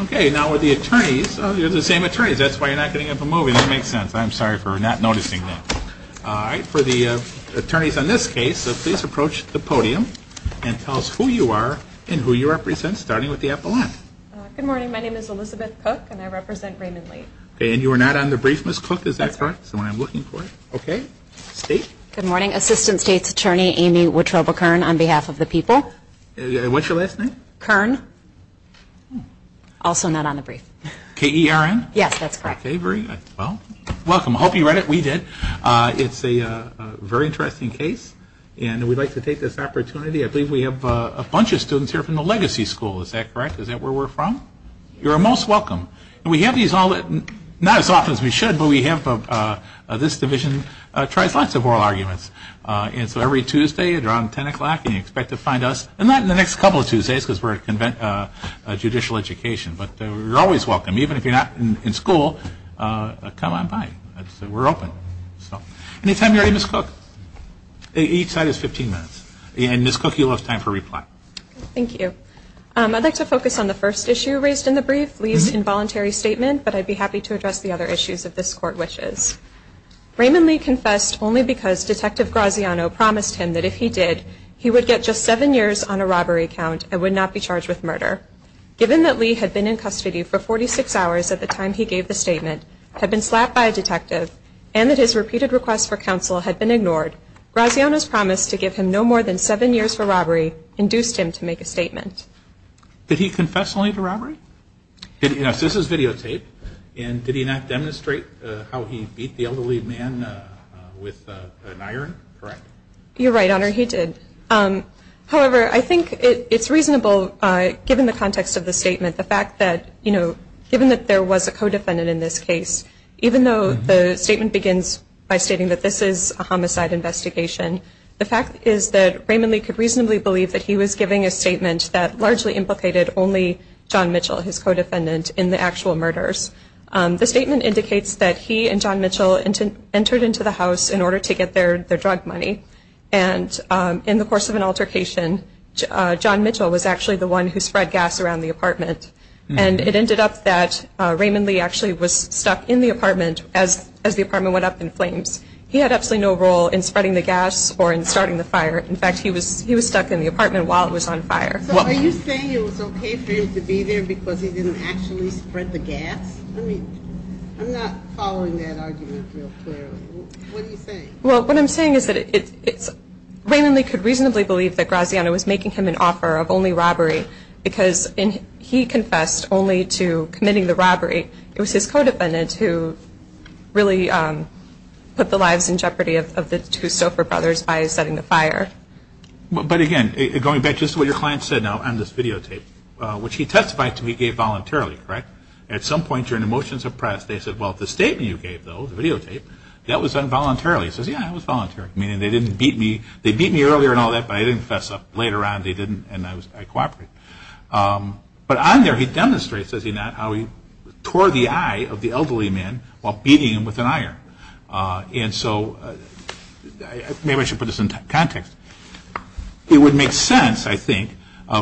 Okay. Now with the attorneys, you're the same attorneys. That's why you're not getting up and moving. That makes sense. I'm sorry for not noticing that. All right. For the attorneys on this case, please approach the podium and tell us who you are and who you represent, starting with the epaulette. Good morning. My name is Elizabeth Cook, and I represent Raymond Lee. Okay. And you are not on the brief, Ms. Cook. Is that correct? That's correct. So I'm looking for it. Okay. State? Good morning. Assistant State's Attorney Amy Wittroba-Kern on behalf of the people. What's your last name? Kern. Also not on the brief. K-E-R-N? Yes, that's correct. Okay. Well, welcome. I hope you read it. We did. It's a very interesting case, and we'd like to take this opportunity. I believe we have a bunch of students here from the Legacy School. Is that correct? Is that where we're from? Yes. You're most welcome. And we have these all, not as often as we should, but we have, this division tries lots of oral arguments. And so every Tuesday at around 10 o'clock, and you expect to find us, and not in the next couple of Tuesdays because we're at judicial education, but you're always welcome, even if you're not in school, come on by. We're open. Any time you're ready, Ms. Cook. Each side is 15 minutes. And Ms. Cook, you'll have time for reply. Thank you. I'd like to focus on the first issue raised in the brief, Lee's involuntary statement, but I'd be happy to address the other issues if this Court wishes. Raymond Lee confessed only because Detective Graziano promised him that if he did, he would get just seven years on a robbery count and would not be charged with murder. Given that Lee had been in custody for 46 hours at the time he gave the statement, had been slapped by a detective, and that his repeated requests for counsel had been ignored, Graziano's promise to give him no more than seven years for robbery induced him to make a statement. Did he confess only to robbery? Yes, this is videotaped. And did he not demonstrate how he beat the elderly man with an iron? Correct? You're right, Your Honor, he did. However, I think it's reasonable, given the context of the statement, the fact that, you know, given that there was a co-defendant in this case, even though the statement begins by stating that this is a homicide investigation, the fact is that Raymond Lee could reasonably believe that he was giving a statement that largely implicated only John Mitchell, his co-defendant, in the actual murders. The statement indicates that he and John Mitchell entered into the house in order to get their drug money. And in the course of an altercation, John Mitchell was actually the one who spread gas around the apartment. And it ended up that Raymond Lee actually was stuck in the apartment as the apartment went up in flames. He had absolutely no role in spreading the gas or in starting the fire. In fact, he was stuck in the apartment while it was on fire. So are you saying it was okay for him to be there because he didn't actually spread the gas? I mean, I'm not following that argument real clearly. What are you saying? Well, what I'm saying is that Raymond Lee could reasonably believe that Graziano was making him an offer of only robbery because he confessed only to committing the robbery. It was his co-defendant who really put the lives in jeopardy of the two Stouffer brothers by setting the fire. But again, going back just to what your client said now on this videotape, which he testified to he gave voluntarily, correct? At some point during the motions of press, they said, well, the statement you gave, though, the videotape, that was involuntarily. He says, yeah, it was voluntary, meaning they didn't beat me. They beat me earlier and all that, but I didn't fess up. Later on, they didn't, and I cooperated. But on there, he demonstrates, does he not, how he tore the eye of the elderly man while beating him with an iron. And so maybe I should put this in context. It would make sense, I think,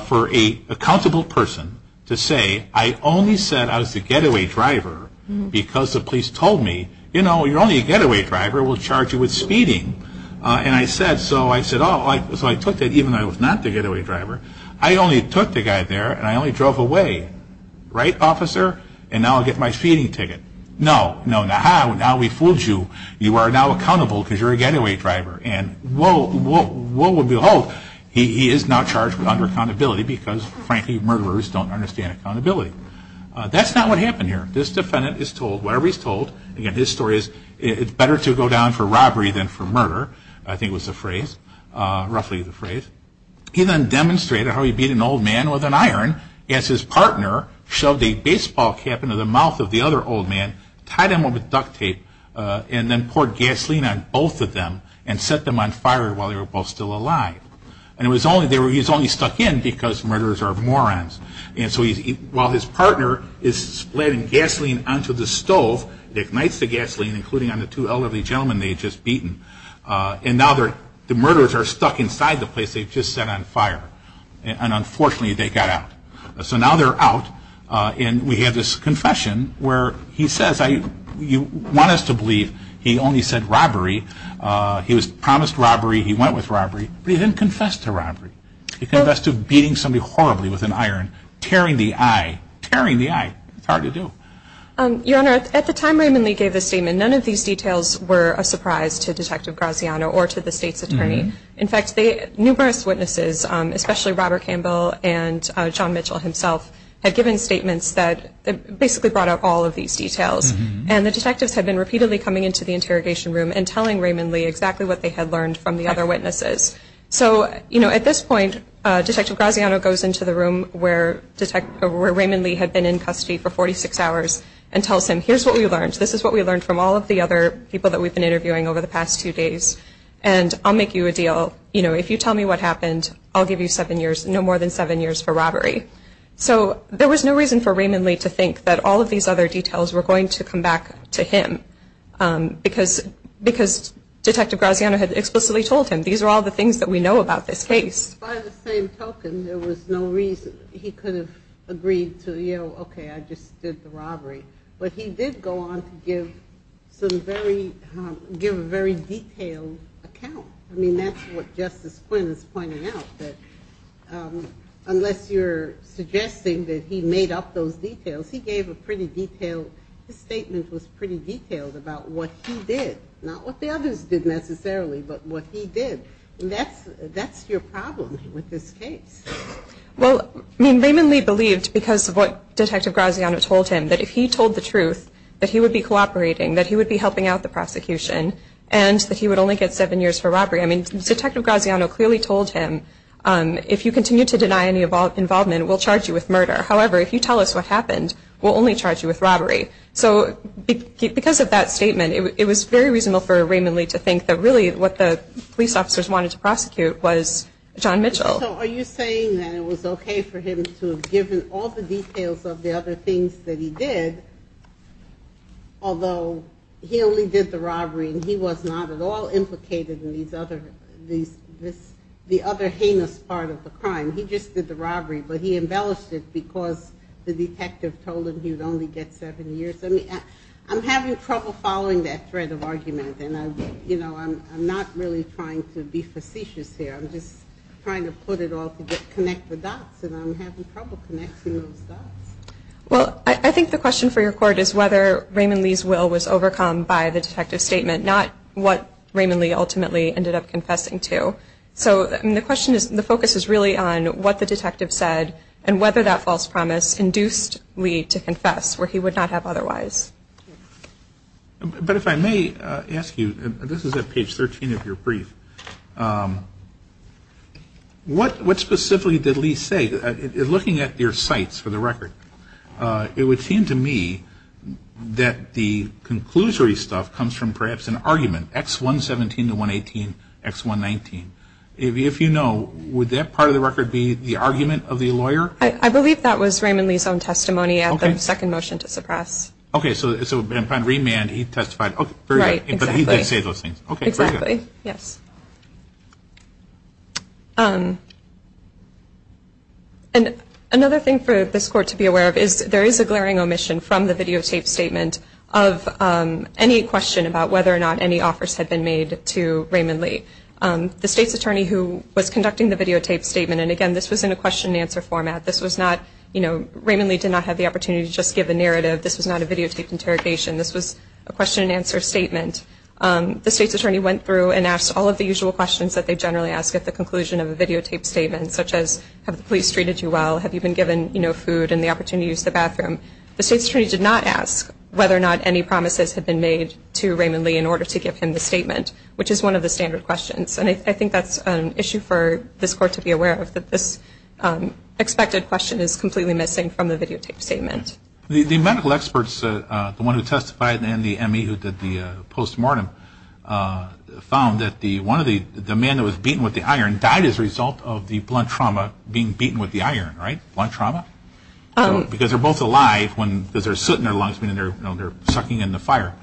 for a accountable person to say, I only said I was the getaway driver because the police told me, you know, you're only a getaway driver. We'll charge you with speeding. And I said, so I took that even though I was not the getaway driver. I only took the guy there, and I only drove away. Right, officer? And now I'll get my speeding ticket. No, no, now we fooled you. You are now accountable because you're a getaway driver. And lo and behold, he is now charged with under accountability because, frankly, murderers don't understand accountability. That's not what happened here. This defendant is told, whatever he's told, again, his story is, it's better to go down for robbery than for murder, I think was the phrase, roughly the phrase. He then demonstrated how he beat an old man with an iron as his partner shoved a baseball cap into the mouth of the other old man, tied him up with duct tape, and then poured gasoline on both of them and set them on fire while they were both still alive. And he was only stuck in because murderers are morons. And so while his partner is splitting gasoline onto the stove, it ignites the gasoline, including on the two elderly gentlemen they had just beaten. And now the murderers are stuck inside the place they had just set on fire. And unfortunately, they got out. So now they're out, and we have this confession where he says, you want us to believe he only said robbery, he promised robbery, he went with robbery, but he didn't confess to robbery. He confessed to beating somebody horribly with an iron, tearing the eye, tearing the eye. It's hard to do. Your Honor, at the time Raymond Lee gave the statement, none of these details were a surprise to Detective Graziano or to the state's attorney. In fact, numerous witnesses, especially Robert Campbell and John Mitchell himself, had given statements that basically brought up all of these details. And the detectives had been repeatedly coming into the interrogation room and telling Raymond Lee exactly what they had learned from the other witnesses. So, you know, at this point, Detective Graziano goes into the room where Raymond Lee had been in custody for 46 hours and tells him, here's what we learned. This is what we learned from all of the other people that we've been interviewing over the past two days. And I'll make you a deal. You know, if you tell me what happened, I'll give you seven years, no more than seven years for robbery. So there was no reason for Raymond Lee to think that all of these other details were going to come back to him because Detective Graziano had explicitly told him, these are all the things that we know about this case. By the same token, there was no reason he could have agreed to, you know, okay, I just did the robbery. But he did go on to give some very, give a very detailed account. I mean, that's what Justice Quinn is pointing out, that unless you're suggesting that he made up those details, he gave a pretty detailed, his statement was pretty detailed about what he did. Not what the others did necessarily, but what he did. And that's your problem with this case. Well, I mean, Raymond Lee believed, because of what Detective Graziano told him, that if he told the truth, that he would be cooperating, that he would be helping out the prosecution, and that he would only get seven years for robbery. I mean, Detective Graziano clearly told him, if you continue to deny any involvement, we'll charge you with murder. However, if you tell us what happened, we'll only charge you with robbery. So because of that statement, it was very reasonable for Raymond Lee to think that, really, what the police officers wanted to prosecute was John Mitchell. So are you saying that it was okay for him to have given all the details of the other things that he did, although he only did the robbery and he was not at all implicated in these other, the other heinous part of the crime? He just did the robbery, but he embellished it because the detective told him he would only get seven years? I'm having trouble following that thread of argument, and I'm not really trying to be facetious here. I'm just trying to put it all together, connect the dots, and I'm having trouble connecting those dots. Well, I think the question for your court is whether Raymond Lee's will was overcome by the detective's statement, not what Raymond Lee ultimately ended up confessing to. So the question is, the focus is really on what the detective said and whether that false promise induced Lee to confess, where he would not have otherwise. But if I may ask you, this is at page 13 of your brief, what specifically did Lee say? Looking at your sites for the record, it would seem to me that the conclusory stuff comes from perhaps an argument, X117 to 118, X119. If you know, would that part of the record be the argument of the lawyer? I believe that was Raymond Lee's own testimony at the second motion to suppress. Okay, so upon remand, he testified. Okay, very good. Right, exactly. But he did say those things. Okay, very good. Exactly, yes. Another thing for this court to be aware of is there is a glaring omission from the videotape statement of any question about whether or not any offers had been made to Raymond Lee. The state's attorney who was conducting the videotape statement, and again, this was in a question and answer format. This was not, you know, Raymond Lee did not have the opportunity to just give a narrative. This was not a videotaped interrogation. This was a question and answer statement. The state's attorney went through and asked all of the usual questions that they generally ask at the conclusion of a videotape statement, such as have the police treated you well, have you been given, you know, food, and the opportunity to use the bathroom. The state's attorney did not ask whether or not any promises had been made to Raymond Lee in order to give him the statement, which is one of the standard questions. And I think that's an issue for this court to be aware of, that this expected question is completely missing from the videotape statement. The medical experts, the one who testified and the ME who did the postmortem, found that the man that was beaten with the iron died as a result of the blunt trauma, being beaten with the iron, right? Blunt trauma? Because they're both alive because they're soot in their lungs, meaning they're sucking in the fire.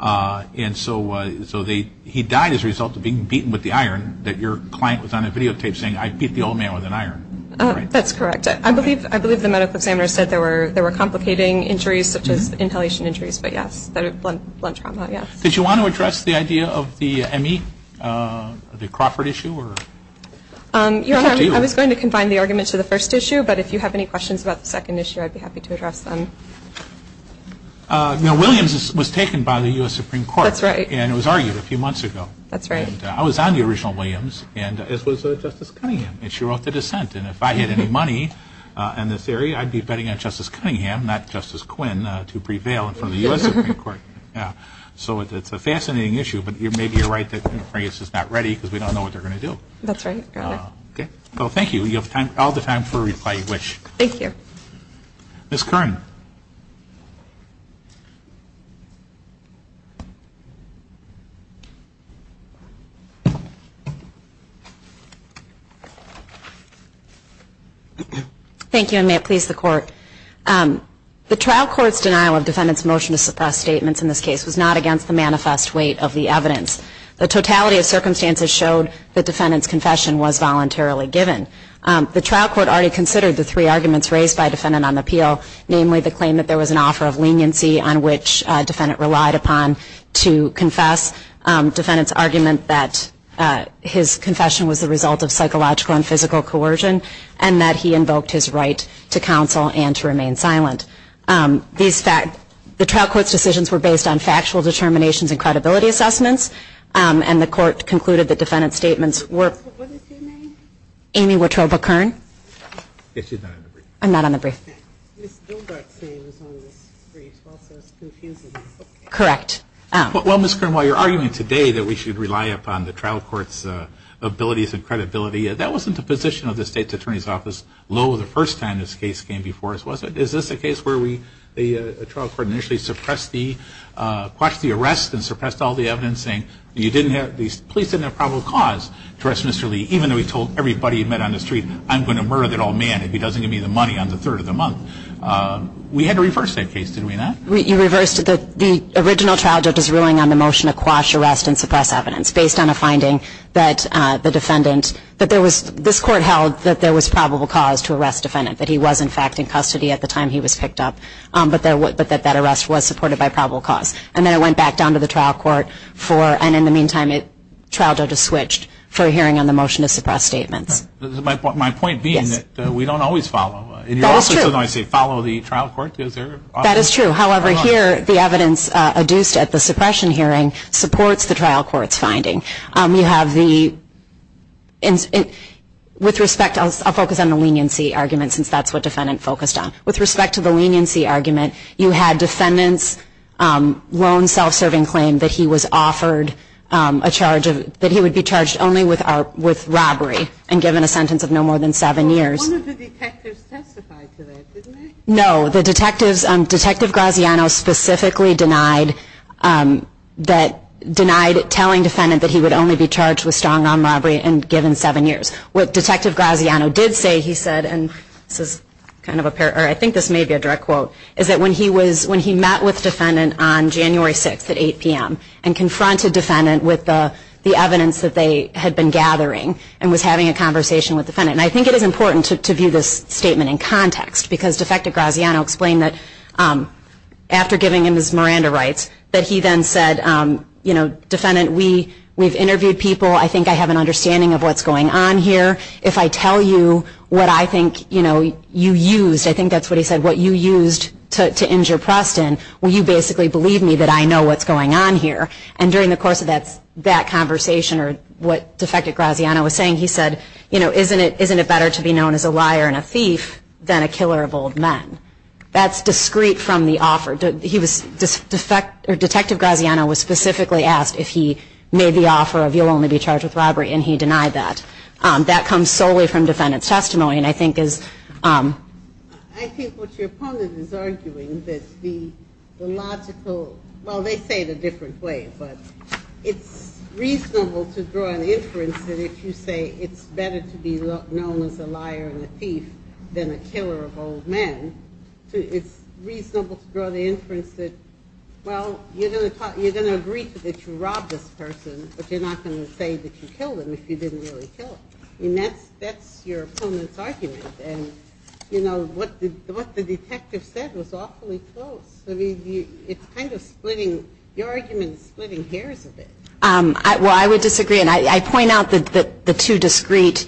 And so he died as a result of being beaten with the iron that your client was on a videotape saying, I beat the old man with an iron. That's correct. I believe the medical examiner said there were complicating injuries such as inhalation injuries, but yes, blunt trauma, yes. Did you want to address the idea of the ME, the Crawford issue? Your Honor, I was going to combine the argument to the first issue, but if you have any questions about the second issue, I'd be happy to address them. Williams was taken by the U.S. Supreme Court. That's right. And it was argued a few months ago. That's right. And I was on the original Williams, as was Justice Cunningham, and she wrote the dissent. And if I had any money in this area, I'd be betting on Justice Cunningham, not Justice Quinn, to prevail in front of the U.S. Supreme Court. So it's a fascinating issue, but maybe you're right that Congress is not ready because we don't know what they're going to do. That's right, Your Honor. Well, thank you. You have all the time for a reply you wish. Thank you. Ms. Kern. Thank you, and may it please the Court. The trial court's denial of defendant's motion to suppress statements in this case was not against the manifest weight of the evidence. The totality of circumstances showed the defendant's confession was voluntarily given. The trial court already considered the three arguments raised by defendant on appeal, namely the claim that there was an offer of leniency on which defendant relied upon to confess, defendant's argument that his confession was the result of psychological and physical coercion, and that he invoked his right to counsel and to remain silent. The trial court's decisions were based on factual determinations and credibility assessments, and the Court concluded the defendant's statements were. What is your name? Amy Wotroba Kern. Yes, she's not on the brief. I'm not on the brief. Ms. Gilbert's name is on this brief also, so it's confusing. Correct. Well, Ms. Kern, while you're arguing today that we should rely upon the trial court's abilities and credibility, that wasn't the position of the State's Attorney's Office, lo the first time this case came before us, was it? Is this a case where we, the trial court initially suppressed the, we arrested and suppressed all the evidence saying you didn't have, the police didn't have probable cause to arrest Mr. Lee, even though he told everybody he met on the street, I'm going to murder that old man if he doesn't give me the money on the third of the month. We had to reverse that case, did we not? You reversed the original trial judge's ruling on the motion to quash, arrest, and suppress evidence based on a finding that the defendant, that there was, this court held that there was probable cause to arrest defendant, that he was, in fact, in custody at the time he was picked up, but that that arrest was supported by probable cause. And then it went back down to the trial court for, and in the meantime, it, trial judge switched for a hearing on the motion to suppress statements. My point being that we don't always follow. That is true. In your office, although I say follow the trial court, is there often? That is true. However, here, the evidence adduced at the suppression hearing supports the trial court's finding. You have the, with respect, I'll focus on the leniency argument, since that's what defendant focused on. With respect to the leniency argument, you had defendant's lone self-serving claim that he was offered a charge of, that he would be charged only with robbery and given a sentence of no more than seven years. Well, one of the detectives testified to that, didn't he? No, the detectives, Detective Graziano specifically denied that, denied telling defendant that he would only be charged with strong arm robbery and given seven years. What Detective Graziano did say, he said, and this is kind of, I think this may be a direct quote, is that when he was, when he met with defendant on January 6th at 8 p.m. and confronted defendant with the evidence that they had been gathering and was having a conversation with defendant, and I think it is important to view this statement in context because Defective Graziano explained that after giving him his Miranda rights, that he then said, you know, defendant, we've interviewed people. I think I have an understanding of what's going on here. If I tell you what I think, you know, you used, I think that's what he said, what you used to injure Preston, will you basically believe me that I know what's going on here? And during the course of that conversation or what Defective Graziano was saying, he said, you know, isn't it better to be known as a liar and a thief than a killer of old men? That's discreet from the offer. Defective Graziano was specifically asked if he made the offer of you'll only be charged with robbery, and he denied that. That comes solely from defendant's testimony, and I think is. I think what your opponent is arguing is the logical, well, they say it a different way, but it's reasonable to draw an inference that if you say it's better to be known as a liar and a thief than a killer of old men, it's reasonable to draw the inference that, well, you're going to agree that you robbed this person, but you're not going to say that you killed him if you didn't really kill him. I mean, that's your opponent's argument. And, you know, what the detective said was awfully close. I mean, it's kind of splitting, your argument is splitting hairs a bit. Well, I would disagree. And I point out the two discrete,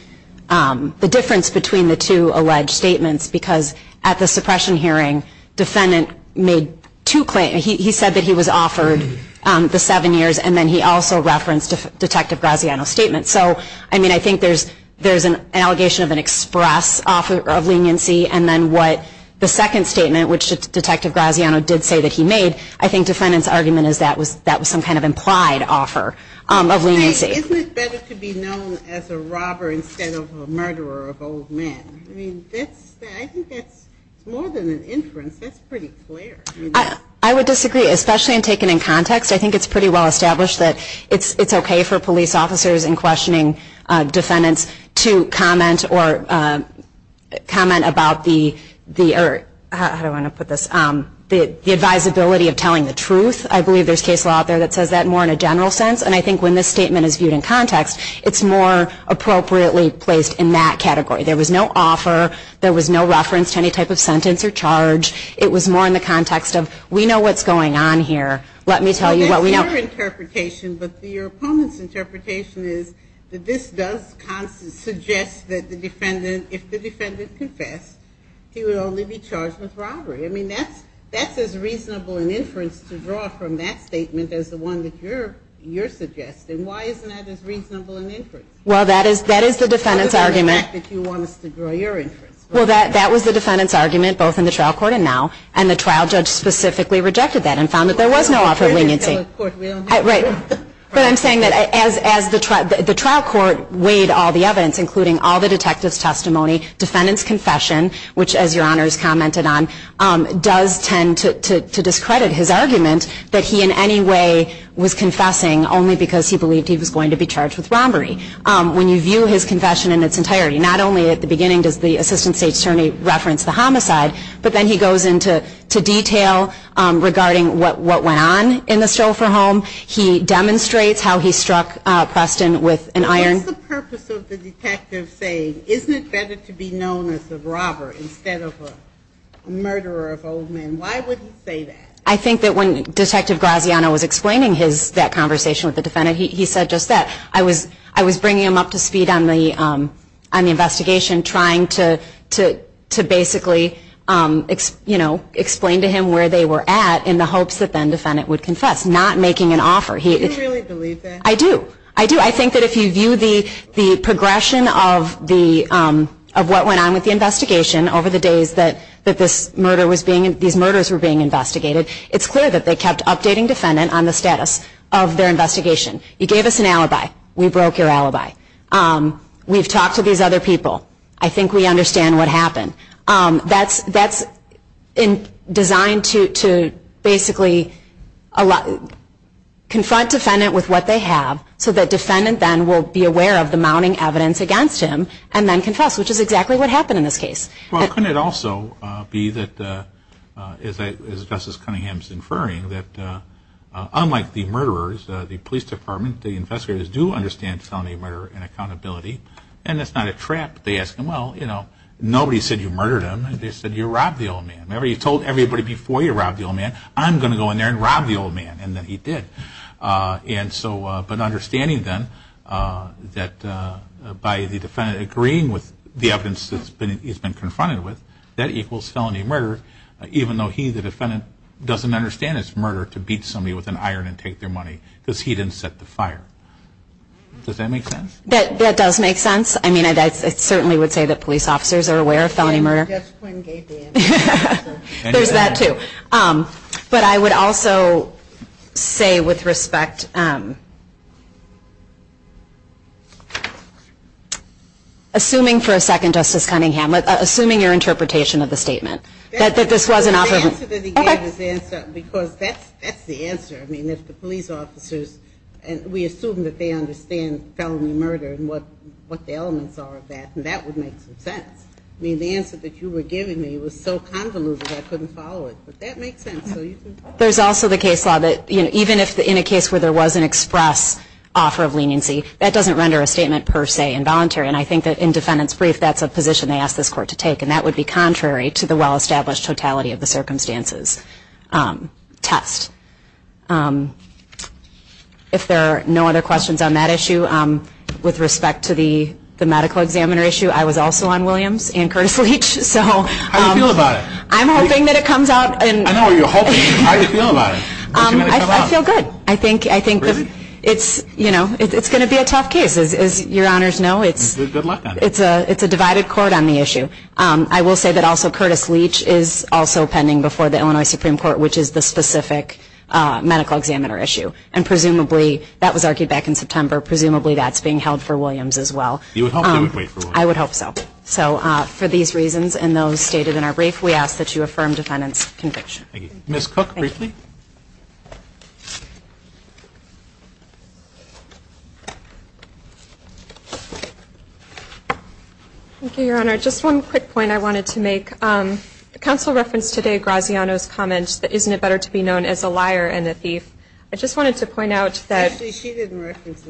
the difference between the two alleged statements, because at the suppression hearing, defendant made two claims. He said that he was offered the seven years, and then he also referenced Detective Graziano's statement. So, I mean, I think there's an allegation of an express offer of leniency, and then what the second statement, which Detective Graziano did say that he made, I think defendant's argument is that was some kind of implied offer of leniency. Isn't it better to be known as a robber instead of a murderer of old men? I mean, I think that's more than an inference. That's pretty clear. I would disagree, especially when taken in context. I think it's pretty well established that it's okay for police officers and questioning defendants to comment about the, how do I want to put this, the advisability of telling the truth. I believe there's case law out there that says that more in a general sense. And I think when this statement is viewed in context, it's more appropriately placed in that category. There was no offer. There was no reference to any type of sentence or charge. It was more in the context of we know what's going on here. Let me tell you what we know. But your opponent's interpretation is that this does suggest that the defendant, if the defendant confessed, he would only be charged with robbery. I mean, that's as reasonable an inference to draw from that statement as the one that you're suggesting. Why isn't that as reasonable an inference? Well, that is the defendant's argument. How about the fact that you want us to draw your inference? Well, that was the defendant's argument, both in the trial court and now. And the trial judge specifically rejected that and found that there was no offer of leniency. We don't do that. Right. But I'm saying that as the trial court weighed all the evidence, including all the detective's testimony, defendant's confession, which as Your Honors commented on, does tend to discredit his argument that he in any way was confessing only because he believed he was going to be charged with robbery. When you view his confession in its entirety, not only at the beginning does the assistant state attorney reference the homicide, but then he goes into detail regarding what went on in the chauffeur home. He demonstrates how he struck Preston with an iron. What's the purpose of the detective saying, isn't it better to be known as a robber instead of a murderer of old men? Why would he say that? I think that when Detective Graziano was explaining that conversation with the defendant, he said just that. I was bringing him up to speed on the investigation, trying to basically explain to him where they were at in the hopes that then defendant would confess, not making an offer. Do you really believe that? I do. I do. I think that if you view the progression of what went on with the investigation over the days that these murders were being investigated, it's clear that they kept updating defendant on the status of their investigation. You gave us an alibi. We broke your alibi. We've talked to these other people. I think we understand what happened. That's designed to basically confront defendant with what they have so that defendant then will be aware of the mounting evidence against him and then confess, which is exactly what happened in this case. Well, couldn't it also be that, as Justice Cunningham is inferring, that unlike the murderers, the police department, the investigators do understand felony murder and accountability, and it's not a trap. They ask them, well, nobody said you murdered him. They said you robbed the old man. Remember, you told everybody before you robbed the old man, I'm going to go in there and rob the old man, and then he did. But understanding then that by the defendant agreeing with the evidence that he's been confronted with, that equals felony murder, even though he, the defendant, doesn't understand it's murder to beat somebody with an iron and take their money because he didn't set the fire. Does that make sense? That does make sense. I mean, I certainly would say that police officers are aware of felony murder. I guess Quinn gave the answer. There's that too. But I would also say with respect, assuming for a second, Justice Cunningham, assuming your interpretation of the statement, that this was an offer. The answer that he gave is the answer because that's the answer. I mean, if the police officers, we assume that they understand felony murder and what the elements are of that, and that would make some sense. I mean, the answer that you were giving me was so convoluted I couldn't follow it. But that makes sense. There's also the case law that even in a case where there was an express offer of leniency, that doesn't render a statement per se involuntary. And I think that in defendant's brief, that's a position they ask this court to take, and that would be contrary to the well-established totality of the circumstances test. If there are no other questions on that issue, with respect to the medical examiner issue, I was also on Williams and Curtis Leach. How do you feel about it? I'm hoping that it comes out. I know what you're hoping. How do you feel about it? I feel good. Really? I think it's going to be a tough case. As your honors know, it's a divided court on the issue. I will say that also Curtis Leach is also pending before the Illinois Supreme Court, which is the specific medical examiner issue. And presumably, that was argued back in September, presumably that's being held for Williams as well. You would hope they would wait for Williams? I would hope so. So for these reasons and those stated in our brief, we ask that you affirm defendant's conviction. Thank you. Ms. Cook, briefly. Thank you, Your Honor. Just one quick point I wanted to make. The counsel referenced today Graziano's comments that isn't it better to be known as a liar than a thief. I just wanted to point out that. Actually, she didn't reference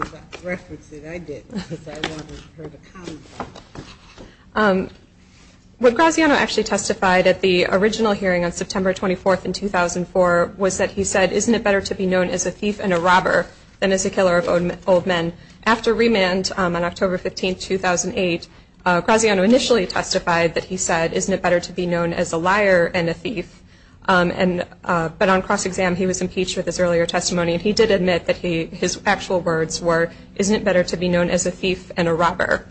it. I did because I wanted her to comment on it. What Graziano actually testified at the original hearing on September 24th in 2004 was that he said, isn't it better to be known as a thief and a robber than as a killer of old men? After remand on October 15th, 2008, Graziano initially testified that he said, isn't it better to be known as a liar than a thief? But on cross-exam, he was impeached with his earlier testimony, and he did admit that his actual words were, isn't it better to be known as a thief than a robber?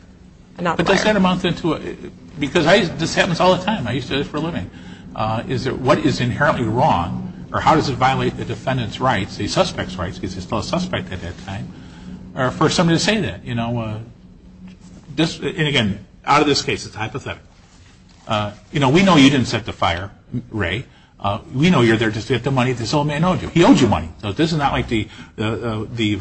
But does that amount to, because this happens all the time. I used to do this for a living. Is it what is inherently wrong, or how does it violate the defendant's rights, the suspect's rights, because he's still a suspect at that time, or for somebody to say that? You know, and again, out of this case, it's hypothetical. You know, we know you didn't set the fire, Ray. We know you're there just to get the money this old man owed you. He owed you money. So this is not like the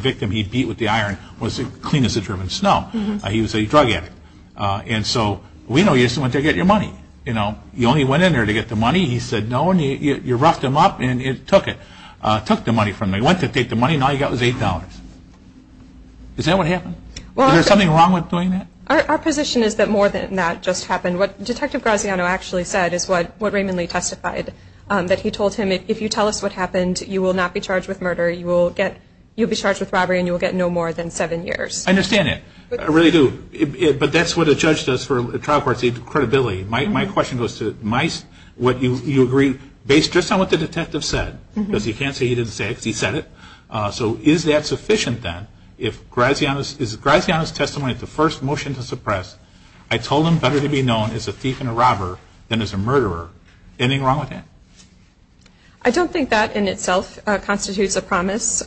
victim he beat with the iron was as clean as the German snow. He was a drug addict. And so we know you just went there to get your money. You know, you only went in there to get the money. He said no, and you roughed him up and took it, took the money from him. He went to take the money, and all he got was $8. Is that what happened? Is there something wrong with doing that? Our position is that more than that just happened. What Detective Graziano actually said is what Raymond Lee testified, that he told him, if you tell us what happened, you will not be charged with murder. You will be charged with robbery, and you will get no more than seven years. I understand that. I really do. But that's what a judge does for a trial court. It's credibility. My question goes to what you agree based just on what the detective said, because he can't say he didn't say it because he said it. So is that sufficient then? Is Graziano's testimony the first motion to suppress, I told him better to be known as a thief and a robber than as a murderer? Anything wrong with that? I don't think that in itself constitutes a promise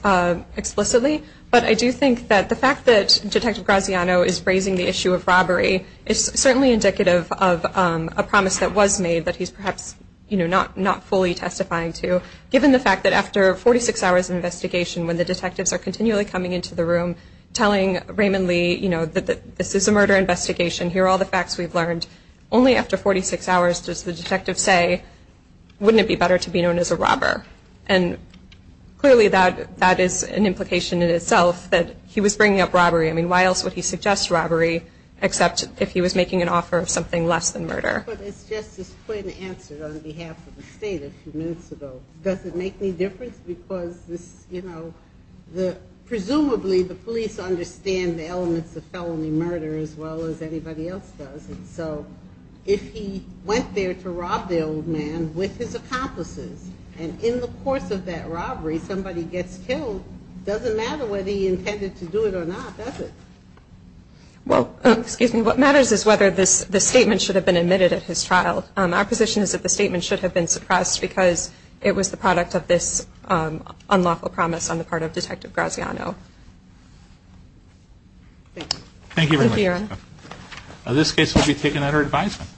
explicitly, but I do think that the fact that Detective Graziano is raising the issue of robbery is certainly indicative of a promise that was made that he's perhaps not fully testifying to, given the fact that after 46 hours of investigation, when the detectives are continually coming into the room telling Raymond Lee, you know, this is a murder investigation, here are all the facts we've learned, only after 46 hours does the detective say, wouldn't it be better to be known as a robber? And clearly that is an implication in itself that he was bringing up robbery. I mean, why else would he suggest robbery, except if he was making an offer of something less than murder? But as Justice Quinn answered on behalf of the state a few minutes ago, does it make any difference? Because, you know, presumably the police understand the elements of felony murder as well as anybody else does. And so if he went there to rob the old man with his accomplices and in the course of that robbery somebody gets killed, it doesn't matter whether he intended to do it or not, does it? Well, excuse me, what matters is whether this statement should have been admitted at his trial. Our position is that the statement should have been suppressed because it was the product of this unlawful promise on the part of Detective Graziano. Thank you. Thank you very much. This case will be taken under advisement.